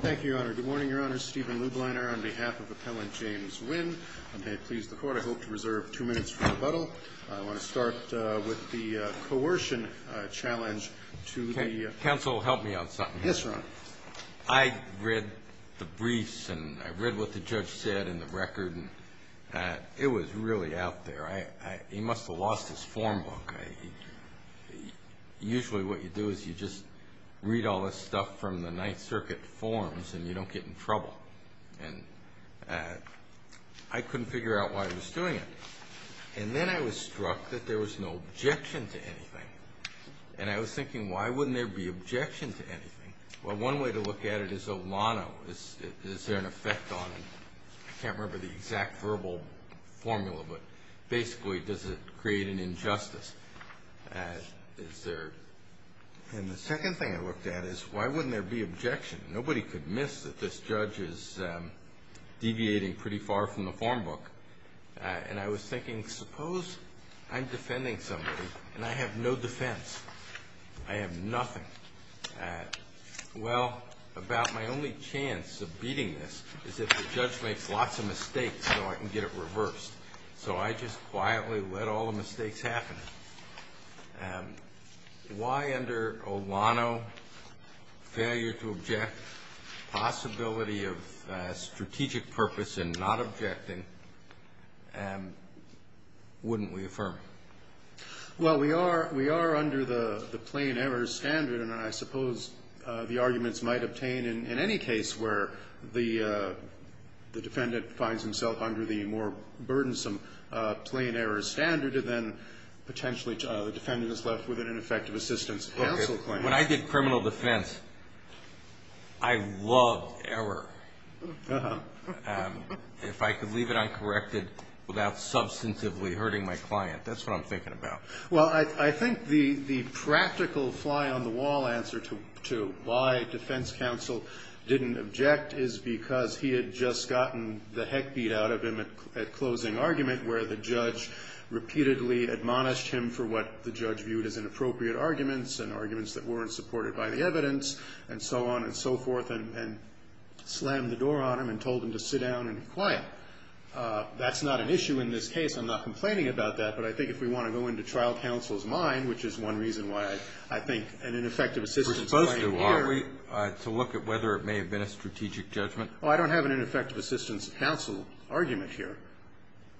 Thank you, Your Honor. Good morning, Your Honor. Stephen Lubliner on behalf of Appellant James Wynn. May it please the Court, I hope to reserve two minutes for rebuttal. I want to start with the coercion challenge to the- Counsel, help me on something here. Yes, Your Honor. I read the briefs, and I read what the judge said in the record, and it was really out there. He must have lost his form book. Usually what you do is you just read all this stuff from the Ninth Circuit forms, and you don't get in trouble. And I couldn't figure out why he was doing it. And then I was struck that there was no objection to anything. And I was thinking, why wouldn't there be objection to anything? Well, one way to look at it is Olano. Is there an effect on him? I can't remember the exact verbal formula, but basically, does it create an injustice? Is there- And the second thing I looked at is, why wouldn't there be objection? Nobody could miss that this judge is deviating pretty far from the form book. And I was thinking, suppose I'm defending somebody, and I have no defense. I have nothing. Well, about my only chance of beating this is if the judge makes lots of mistakes so I can get it reversed. So I just quietly let all the mistakes happen. Why under Olano, failure to object, possibility of strategic purpose in not objecting, wouldn't we affirm? Well, we are under the plain error standard. And I suppose the arguments might obtain in any case where the defendant finds himself under the more burdensome plain error standard, then potentially the defendant is left with an ineffective assistance counsel claim. When I did criminal defense, I loved error. If I could leave it uncorrected without substantively hurting my client, that's what I'm thinking about. Well, I think the practical fly-on-the-wall answer to why defense counsel didn't object is because he had just gotten the heck beat out of him at closing argument, where the judge repeatedly admonished him for what the judge viewed as inappropriate arguments and arguments that weren't supported by the evidence and so on and so forth, and slammed the door on him and told him to sit down and be quiet. That's not an issue in this case. I'm not complaining about that. But I think if we want to go into trial counsel's mind, which is one reason why I think an ineffective assistance claim here. We're supposed to, aren't we, to look at whether it may have been a strategic judgment? Well, I don't have an ineffective assistance counsel argument here.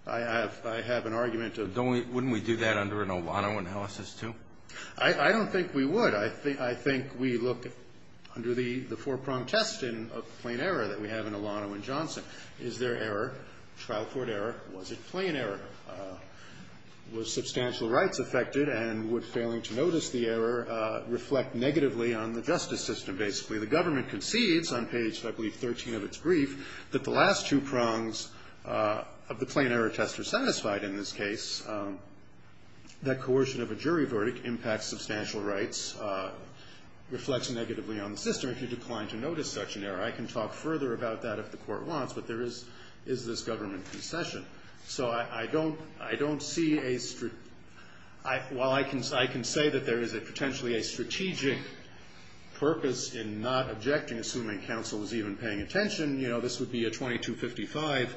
I have an argument of. Wouldn't we do that under an Olano analysis too? I don't think we would. I think we look under the four-prong test of plain error that we have in Olano and Johnson. Is there error? Trial court error. Was it plain error? Were substantial rights affected? And would failing to notice the error reflect negatively on the justice system? Basically, the government concedes on page, I believe, 13 of its brief, that the last two prongs of the plain error test are satisfied in this case. That coercion of a jury verdict impacts substantial rights reflects negatively on the system. If you decline to notice such an error, I can talk further about that if the court wants. But there is this government concession. So I don't see a strategic. While I can say that there is potentially a strategic purpose in not objecting, assuming counsel was even paying attention, you know, this would be a 2255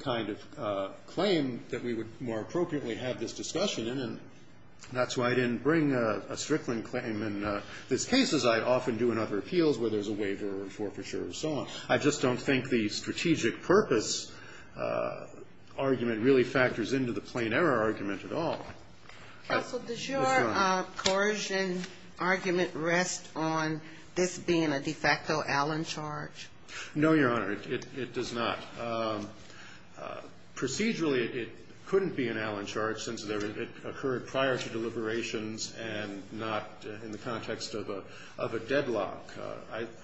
kind of claim that we would more appropriately have this discussion in. And that's why I didn't bring a Strickland claim in this case, as I often do in other appeals where there's a waiver or forfeiture or so on. I just don't think the strategic purpose argument really factors into the plain error argument at all. Counsel, does your coercion argument rest on this being a de facto Allen charge? No, Your Honor. It does not. Procedurally, it couldn't be an Allen charge since it occurred prior to deliberations and not in the context of a deadlock.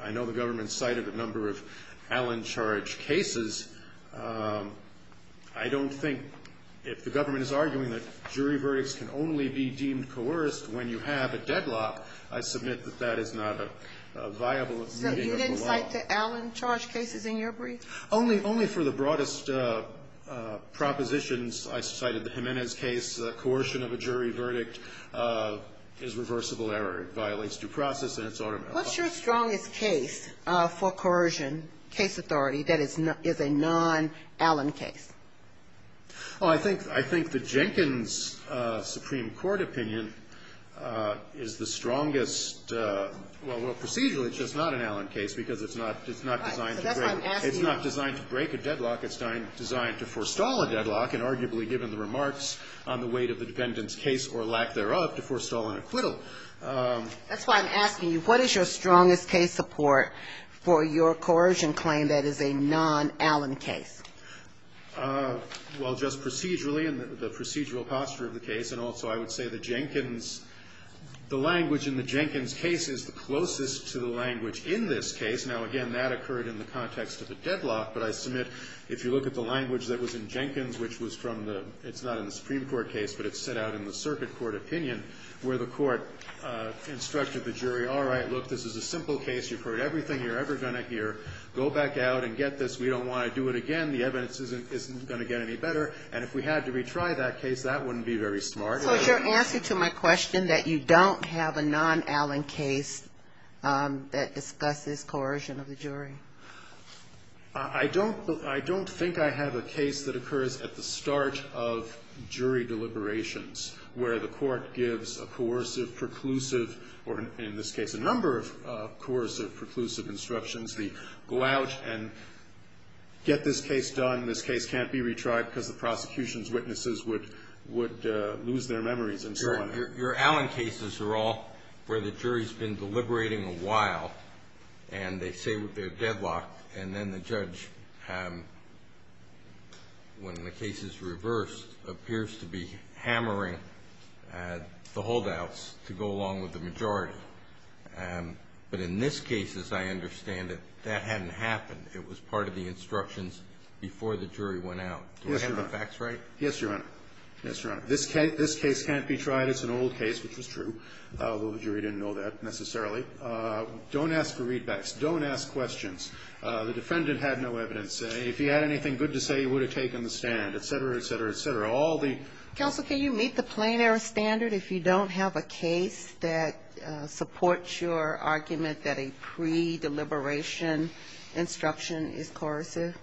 I know the government cited a number of Allen charge cases. I don't think if the government is arguing that jury verdicts can only be deemed coerced when you have a deadlock, I submit that that is not a viable meaning of the law. You didn't cite the Allen charge cases in your brief? Only for the broadest propositions. I cited the Jimenez case. Coercion of a jury verdict is reversible error. It violates due process and it's automatic. What's your strongest case for coercion, case authority, that is a non-Allen case? Oh, I think the Jenkins Supreme Court opinion is the strongest. Well, procedurally, it's just not an Allen case because it's not designed to break a deadlock. It's not designed to break a deadlock. It's designed to forestall a deadlock, and arguably, given the remarks on the weight of the defendant's case or lack thereof, to forestall an acquittal. That's why I'm asking you, what is your strongest case support for your coercion claim that is a non-Allen case? Well, just procedurally and the procedural posture of the case. And also, I would say the language in the Jenkins case is the closest to the language in this case. Now, again, that occurred in the context of a deadlock. But I submit, if you look at the language that was in Jenkins, which was from the – it's not in the Supreme Court case, but it's set out in the circuit court opinion where the court instructed the jury, all right, look, this is a simple case. You've heard everything you're ever going to hear. Go back out and get this. We don't want to do it again. The evidence isn't going to get any better. And if we had to retry that case, that wouldn't be very smart. So is your answer to my question that you don't have a non-Allen case that discusses coercion of the jury? I don't think I have a case that occurs at the start of jury deliberations where the court gives a coercive, preclusive, or in this case, a number of coercive, preclusive instructions. They go out and get this case done. This case can't be retried because the prosecution's witnesses would lose their memories and so on. Your Allen cases are all where the jury's been deliberating a while, and they say they're deadlocked. And then the judge, when the case is reversed, appears to be hammering the holdouts to go along with the majority. But in this case, as I understand it, that hadn't happened. It was part of the instructions before the jury went out. Yes, Your Honor. Do I have the facts right? Yes, Your Honor. Yes, Your Honor. This case can't be tried. It's an old case, which was true, although the jury didn't know that necessarily. Don't ask for readbacks. Don't ask questions. The defendant had no evidence. If he had anything good to say, he would have taken the stand, et cetera, et cetera, et cetera. All the ---- Counsel, can you meet the plein air standard if you don't have a case that supports your argument that a pre-deliberation instruction is coercive?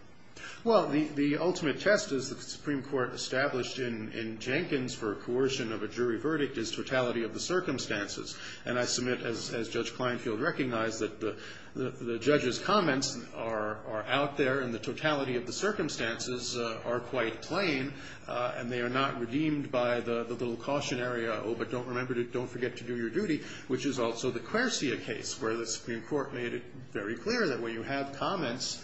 Well, the ultimate test, as the Supreme Court established in Jenkins for coercion of a jury verdict, is totality of the circumstances. And I submit, as Judge Kleinfeld recognized, that the judge's comments are out there and the totality of the circumstances are quite plain, and they are not redeemed by the little cautionary, oh, but don't forget to do your duty, which is also the Quersia case, where the Supreme Court made it very clear that when you have comments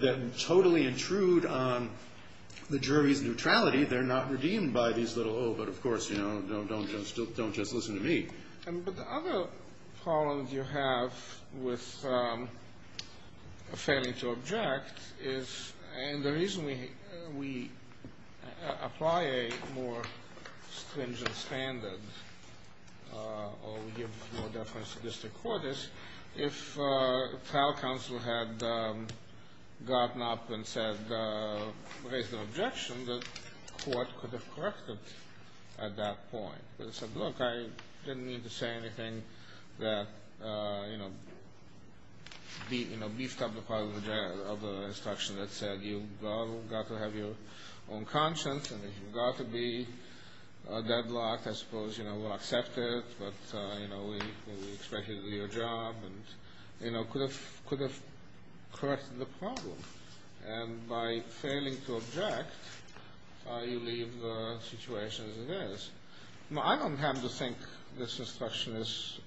that totally intrude on the jury's neutrality, they're not redeemed by these little, oh, but of course, you know, don't just listen to me. But the other problem you have with failing to object is, and the reason we apply a more stringent standard, or we give more deference to district court is, if trial counsel had gotten up and said, raised an objection, the court could have corrected at that point. They said, look, I didn't mean to say anything that, you know, beefed up the part of the deadlock, I suppose, you know, we'll accept it, but, you know, we expect you to do your job, and, you know, could have corrected the problem. And by failing to object, you leave the situation as it is. Now, I don't have to think this instruction is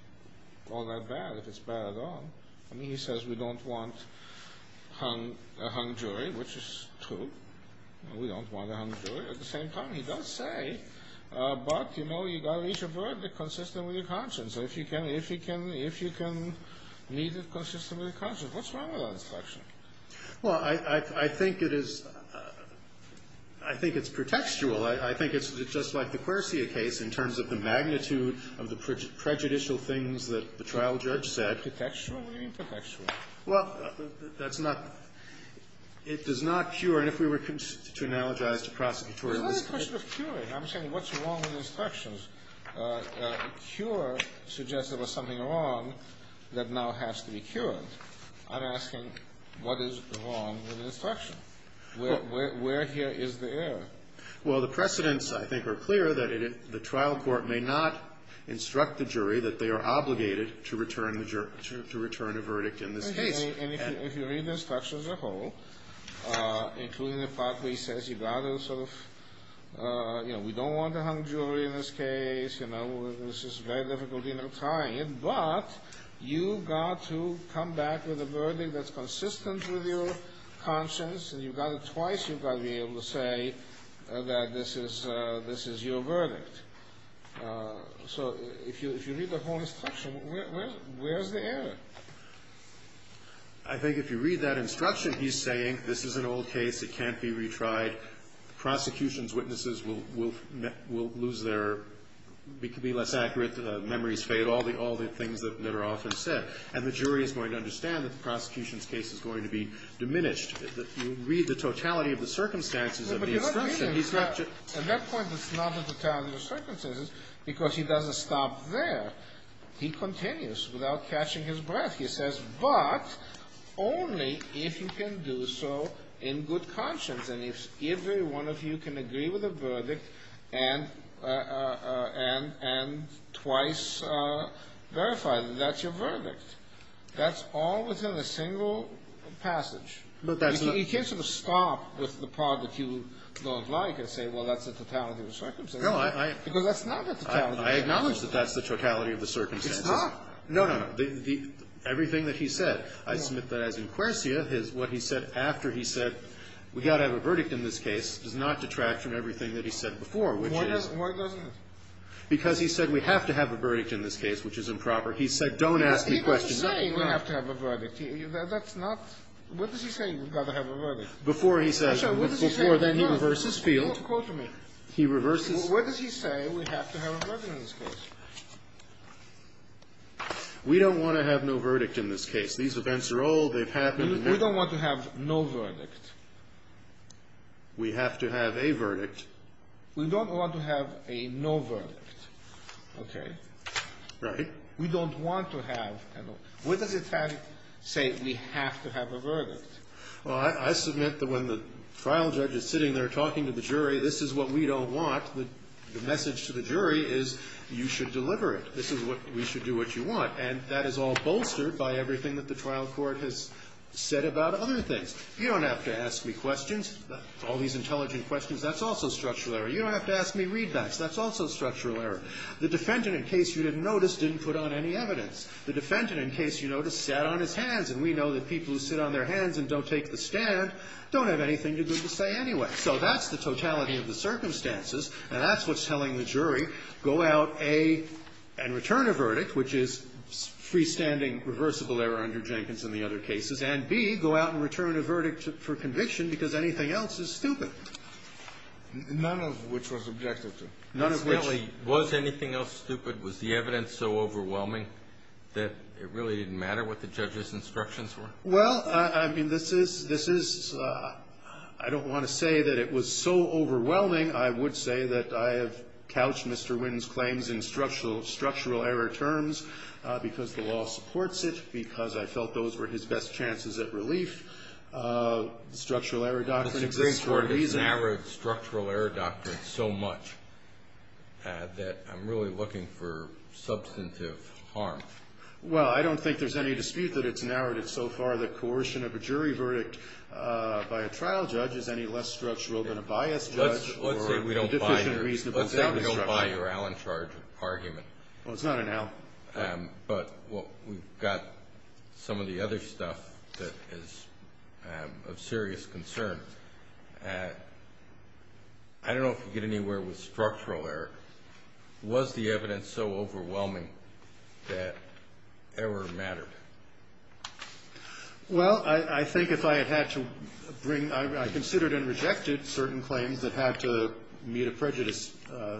all that bad, if it's bad at all. I mean, he says we don't want a hung jury, which is true. We don't want a hung jury. At the same time, he does say, but, you know, you've got to reach a verdict consistent with your conscience. If you can meet it consistently with your conscience. What's wrong with that instruction? Well, I think it is, I think it's pretextual. I think it's just like the Quercia case in terms of the magnitude of the prejudicial things that the trial judge said. Pretextual or intertextual? Well, that's not. It does not cure, and if we were to analogize to prosecutorialism. It's not a question of curing. I'm saying what's wrong with the instructions. A cure suggests there was something wrong that now has to be cured. I'm asking what is wrong with the instruction? Where here is the error? Well, the precedents, I think, are clear that the trial court may not instruct the jury that they are obligated to return a verdict in this case. And if you read the instructions as a whole, including the part where he says you've got to sort of, you know, we don't want a hung jury in this case. You know, this is very difficult, you know, trying it. But you've got to come back with a verdict that's consistent with your conscience, and you've got to twice you've got to be able to say that this is your verdict. So if you read the whole instruction, where is the error? I think if you read that instruction, he's saying this is an old case. It can't be retried. The prosecution's witnesses will lose their be less accurate. Memories fade. All the things that are often said. And the jury is going to understand that the prosecution's case is going to be diminished. If you read the totality of the circumstances of the instruction, he's not just. At that point, it's not the totality of the circumstances because he doesn't stop there. He continues without catching his breath. He says, but only if you can do so in good conscience. And if every one of you can agree with the verdict and twice verify that that's your verdict. That's all within a single passage. He can't sort of stop with the part that you don't like and say, well, that's the totality of the circumstances. Because that's not the totality of the circumstances. I acknowledge that that's the totality of the circumstances. It's not. No, no, no. Everything that he said. I submit that as in Quersia, what he said after he said we've got to have a verdict in this case does not detract from everything that he said before, which is. Why doesn't it? Because he said we have to have a verdict in this case, which is improper. He said don't ask me questions. He's saying we have to have a verdict. That's not. What does he say? We've got to have a verdict. Before he says. Before then he reverses field. He reverses. What does he say? We have to have a verdict in this case. We don't want to have no verdict in this case. These events are old. They've happened. We don't want to have no verdict. We have to have a verdict. We don't want to have a no verdict. OK. Right. We don't want to have a no. What does it say? We have to have a verdict. Well, I submit that when the trial judge is sitting there talking to the jury, this is what we don't want. The message to the jury is you should deliver it. This is what we should do what you want. And that is all bolstered by everything that the trial court has said about other things. You don't have to ask me questions, all these intelligent questions. That's also structural error. You don't have to ask me readbacks. That's also structural error. The defendant, in case you didn't notice, didn't put on any evidence. The defendant, in case you noticed, sat on his hands. And we know that people who sit on their hands and don't take the stand don't have anything good to say anyway. So that's the totality of the circumstances. And that's what's telling the jury, go out, A, and return a verdict, which is freestanding reversible error under Jenkins and the other cases. And, B, go out and return a verdict for conviction because anything else is stupid. None of which was objective to. None of which. Was anything else stupid? Was the evidence so overwhelming that it really didn't matter what the judge's instructions were? Well, I mean, this is ‑‑ I don't want to say that it was so overwhelming. I would say that I have couched Mr. Wynne's claims in structural error terms because the law supports it, because I felt those were his best chances at relief. Structural error doctrine exists for a reason. It's narrowed structural error doctrine so much that I'm really looking for substantive harm. Well, I don't think there's any dispute that it's narrowed it so far that coercion of a jury verdict by a trial judge is any less structural than a biased judge or a deficient reasonable judge. Let's say we don't buy your Allen charge argument. Well, it's not an Allen. But we've got some of the other stuff that is of serious concern. I don't know if you get anywhere with structural error. Was the evidence so overwhelming that error mattered? Well, I think if I had had to bring ‑‑ I considered and rejected certain claims that had to meet a prejudice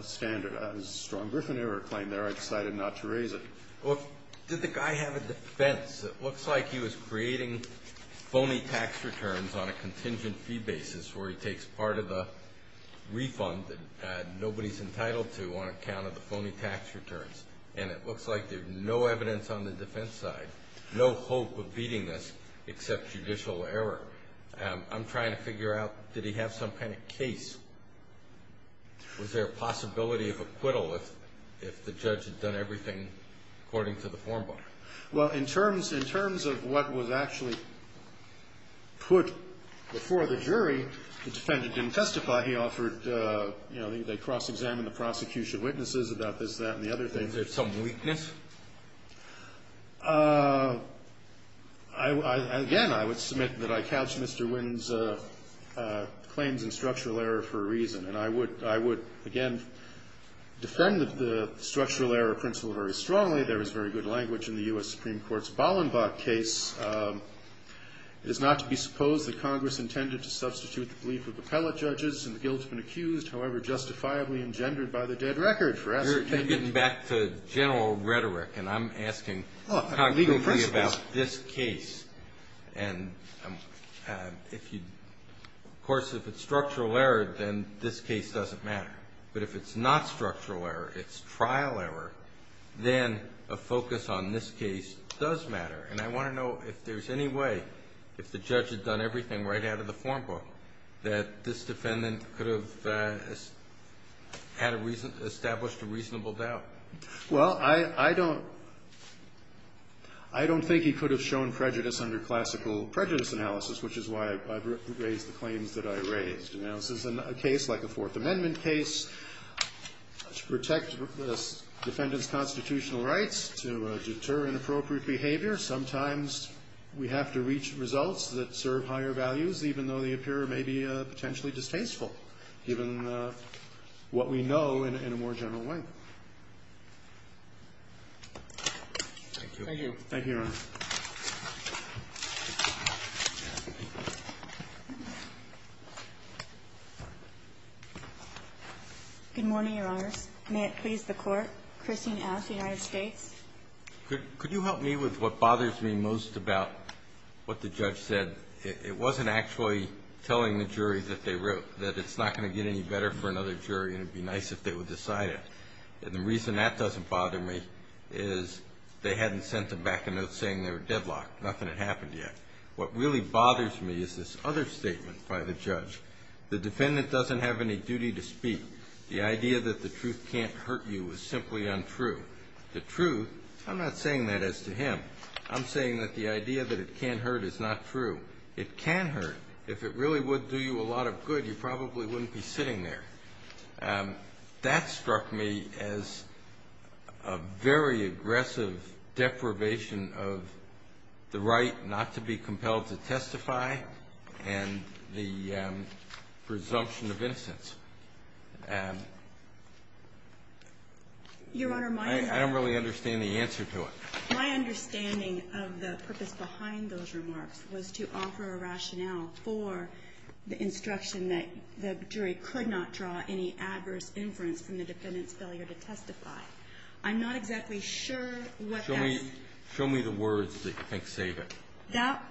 standard. I had a strong Griffin error claim there. I decided not to raise it. Well, did the guy have a defense? It looks like he was creating phony tax returns on a contingent fee basis where he takes part of the refund that nobody's entitled to on account of the phony tax returns. And it looks like there's no evidence on the defense side, no hope of beating this except judicial error. I'm trying to figure out, did he have some kind of case? Was there a possibility of acquittal if the judge had done everything according to the form bar? Well, in terms of what was actually put before the jury, the defendant didn't testify. He offered, you know, they cross‑examined the prosecution witnesses about this, that, and the other things. Was there some weakness? Again, I would submit that I couched Mr. Wynne's claims in structural error for a reason. And I would, again, defend the structural error principle very strongly. There was very good language in the U.S. Supreme Court's Ballenbach case. It is not to be supposed that Congress intended to substitute the belief of appellate judges and the guilt has been accused, however justifiably engendered by the dead record. You're getting back to general rhetoric, and I'm asking concretely about this case. And, of course, if it's structural error, then this case doesn't matter. But if it's not structural error, it's trial error, then a focus on this case does matter. And I want to know if there's any way, if the judge had done everything right out of the form book, that this defendant could have established a reasonable doubt. Well, I don't think he could have shown prejudice under classical prejudice analysis, which is why I've raised the claims that I raised. In a case like a Fourth Amendment case, to protect the defendant's constitutional rights, to deter inappropriate behavior, sometimes we have to reach results that serve higher values, even though they appear maybe potentially distasteful, given what we know in a more general way. Thank you. Thank you, Your Honor. Good morning, Your Honors. May it please the Court, Christine S., United States. Could you help me with what bothers me most about what the judge said? It wasn't actually telling the jury that it's not going to get any better for another jury, and it would be nice if they would decide it. And the reason that doesn't bother me is they hadn't sent them back a note saying they were deadlocked. Nothing had happened yet. What really bothers me is this other statement by the judge. The defendant doesn't have any duty to speak. The idea that the truth can't hurt you is simply untrue. The truth, I'm not saying that as to him. I'm saying that the idea that it can't hurt is not true. It can hurt. If it really would do you a lot of good, you probably wouldn't be sitting there. That struck me as a very aggressive deprivation of the right not to be compelled to testify and the presumption of innocence. And I don't really understand the answer to it. Your Honor, my understanding of the purpose behind those remarks was to offer a rationale for the instruction that the jury could not draw any adverse inference from the defendant's failure to testify. I'm not exactly sure what that is. Show me the words that you think save it.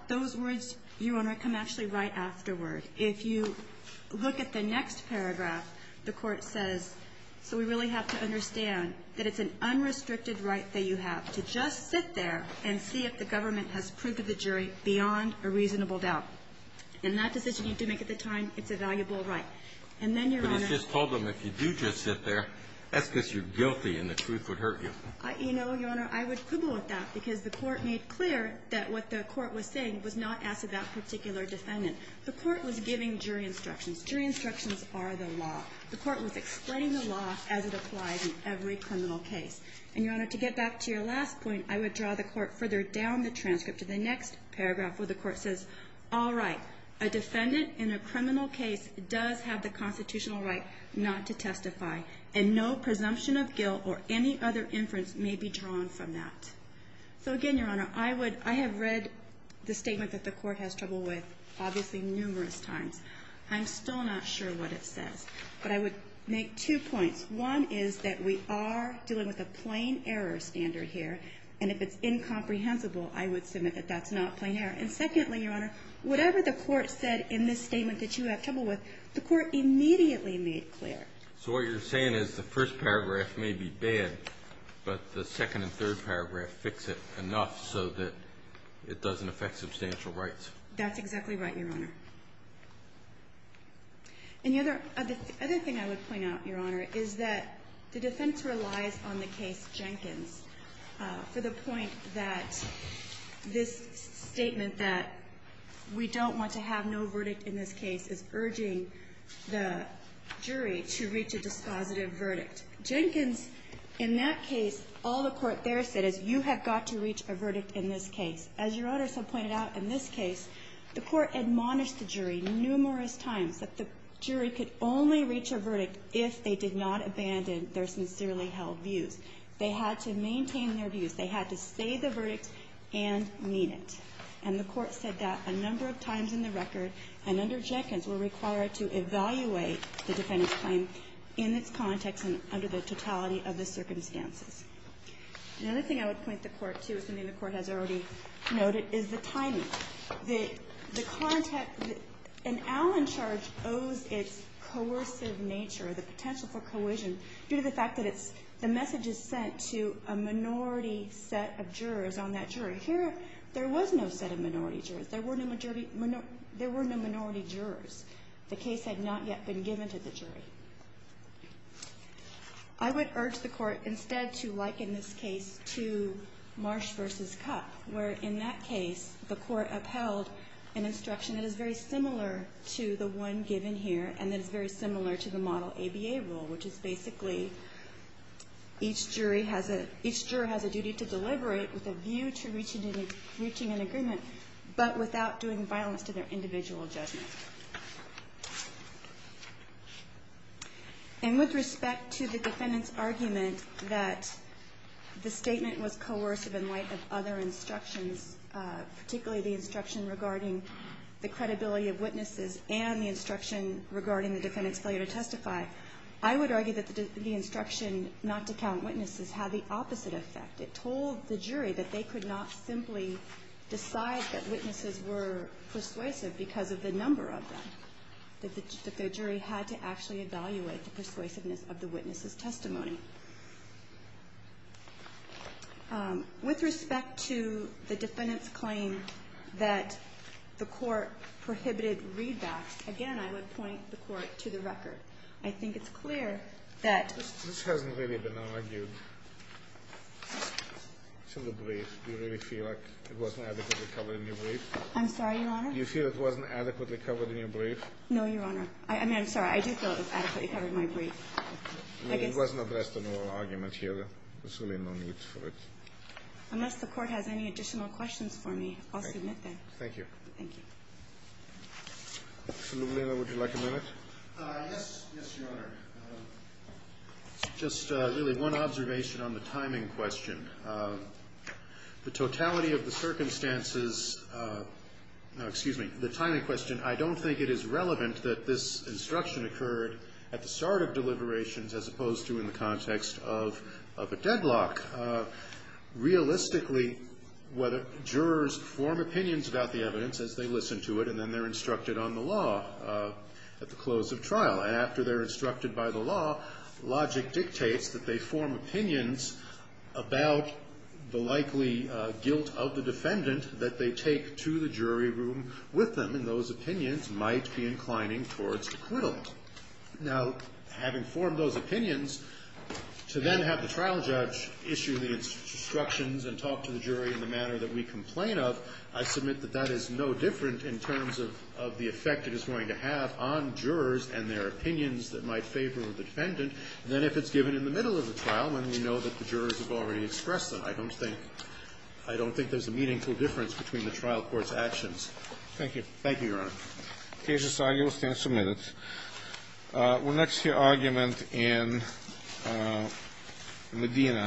Those words, Your Honor, come actually right afterward. If you look at the next paragraph, the Court says, so we really have to understand that it's an unrestricted right that you have to just sit there and see if the government has proof of the jury beyond a reasonable doubt. And that decision you do make at the time, it's a valuable right. And then, Your Honor ---- But he's just told them if you do just sit there, that's because you're guilty and the truth would hurt you. You know, Your Honor, I would quibble with that because the Court made clear that what the Court was saying was not as to that particular defendant. The Court was giving jury instructions. Jury instructions are the law. The Court was explaining the law as it applies in every criminal case. And, Your Honor, to get back to your last point, I would draw the Court further down the transcript to the next paragraph where the Court says, all right, a defendant in a criminal case does have the constitutional right not to testify, and no presumption of guilt or any other inference may be drawn from that. So, again, Your Honor, I would ---- I have read the statement that the Court has trouble with obviously numerous times. I'm still not sure what it says. But I would make two points. One is that we are dealing with a plain error standard here. And if it's incomprehensible, I would submit that that's not plain error. And, secondly, Your Honor, whatever the Court said in this statement that you have trouble with, the Court immediately made clear. So what you're saying is the first paragraph may be bad, but the second and third paragraph fix it enough so that it doesn't affect substantial rights. That's exactly right, Your Honor. And the other thing I would point out, Your Honor, is that the defense relies on the case Jenkins for the point that this statement that we don't want to have no verdict in this case is urging the jury to reach a dispositive verdict. Jenkins, in that case, all the Court there said is you have got to reach a verdict in this case. As Your Honor so pointed out, in this case, the Court admonished the jury numerous times that the jury could only reach a verdict if they did not abandon their sincerely held views. They had to maintain their views. They had to say the verdict and mean it. And the Court said that a number of times in the record, and under Jenkins, were required to evaluate the defendant's claim in its context and under the totality of the circumstances. Another thing I would point the Court to, something the Court has already noted, is the timing. The context that an Allen charge owes its coercive nature, the potential for cohesion, due to the fact that it's the message is sent to a minority set of jurors on that jury. Here, there was no set of minority jurors. There were no majority – there were no minority jurors. The case had not yet been given to the jury. I would urge the Court instead to liken this case to Marsh v. Cupp, where in that case, the Court upheld an instruction that is very similar to the one given here and that is very similar to the model ABA rule, which is basically each jury has a – each juror has a duty to deliberate with a view to reaching an agreement, but without doing violence to their individual judgment. And with respect to the defendant's argument that the statement was coercive in light of other instructions, particularly the instruction regarding the credibility of witnesses and the instruction regarding the defendant's failure to testify, I would argue that the instruction not to count witnesses had the opposite effect. It told the jury that they could not simply decide that witnesses were persuasive because of the number of them, that the jury had to actually evaluate the persuasiveness of the witnesses' testimony. With respect to the defendant's claim that the Court prohibited readbacks, again, I would point the Court to the record. I think it's clear that – This hasn't really been argued to the brief. Do you really feel like it wasn't adequately covered in your brief? I'm sorry, Your Honor? Do you feel it wasn't adequately covered in your brief? No, Your Honor. I mean, I'm sorry. I do feel it was adequately covered in my brief. I mean, it wasn't addressed in oral argument here. There's really no need for it. Unless the Court has any additional questions for me, I'll submit them. Thank you. Thank you. Mr. Luglino, would you like a minute? Yes. Yes, Your Honor. Just really one observation on the timing question. The totality of the circumstances – no, excuse me. The timing question, I don't think it is relevant that this instruction occurred at the start of deliberations as opposed to in the context of a deadlock. Realistically, jurors form opinions about the evidence as they listen to it, and then they're instructed on the law at the close of trial. And after they're instructed by the law, logic dictates that they form opinions about the likely guilt of the defendant that they take to the jury room with them, and those opinions might be inclining towards acquittal. Now, having formed those opinions, to then have the trial judge issue the instructions and talk to the jury in the manner that we complain of, I submit that that is no different in terms of the effect it is going to have on jurors and their opinions that might favor the defendant than if it's given in the middle of the trial when we know that the jurors have already expressed them. I don't think there's a meaningful difference between the trial court's actions. Thank you. Thank you, Your Honor. The case is signed. You will stand submitted. We'll next hear argument in Medina.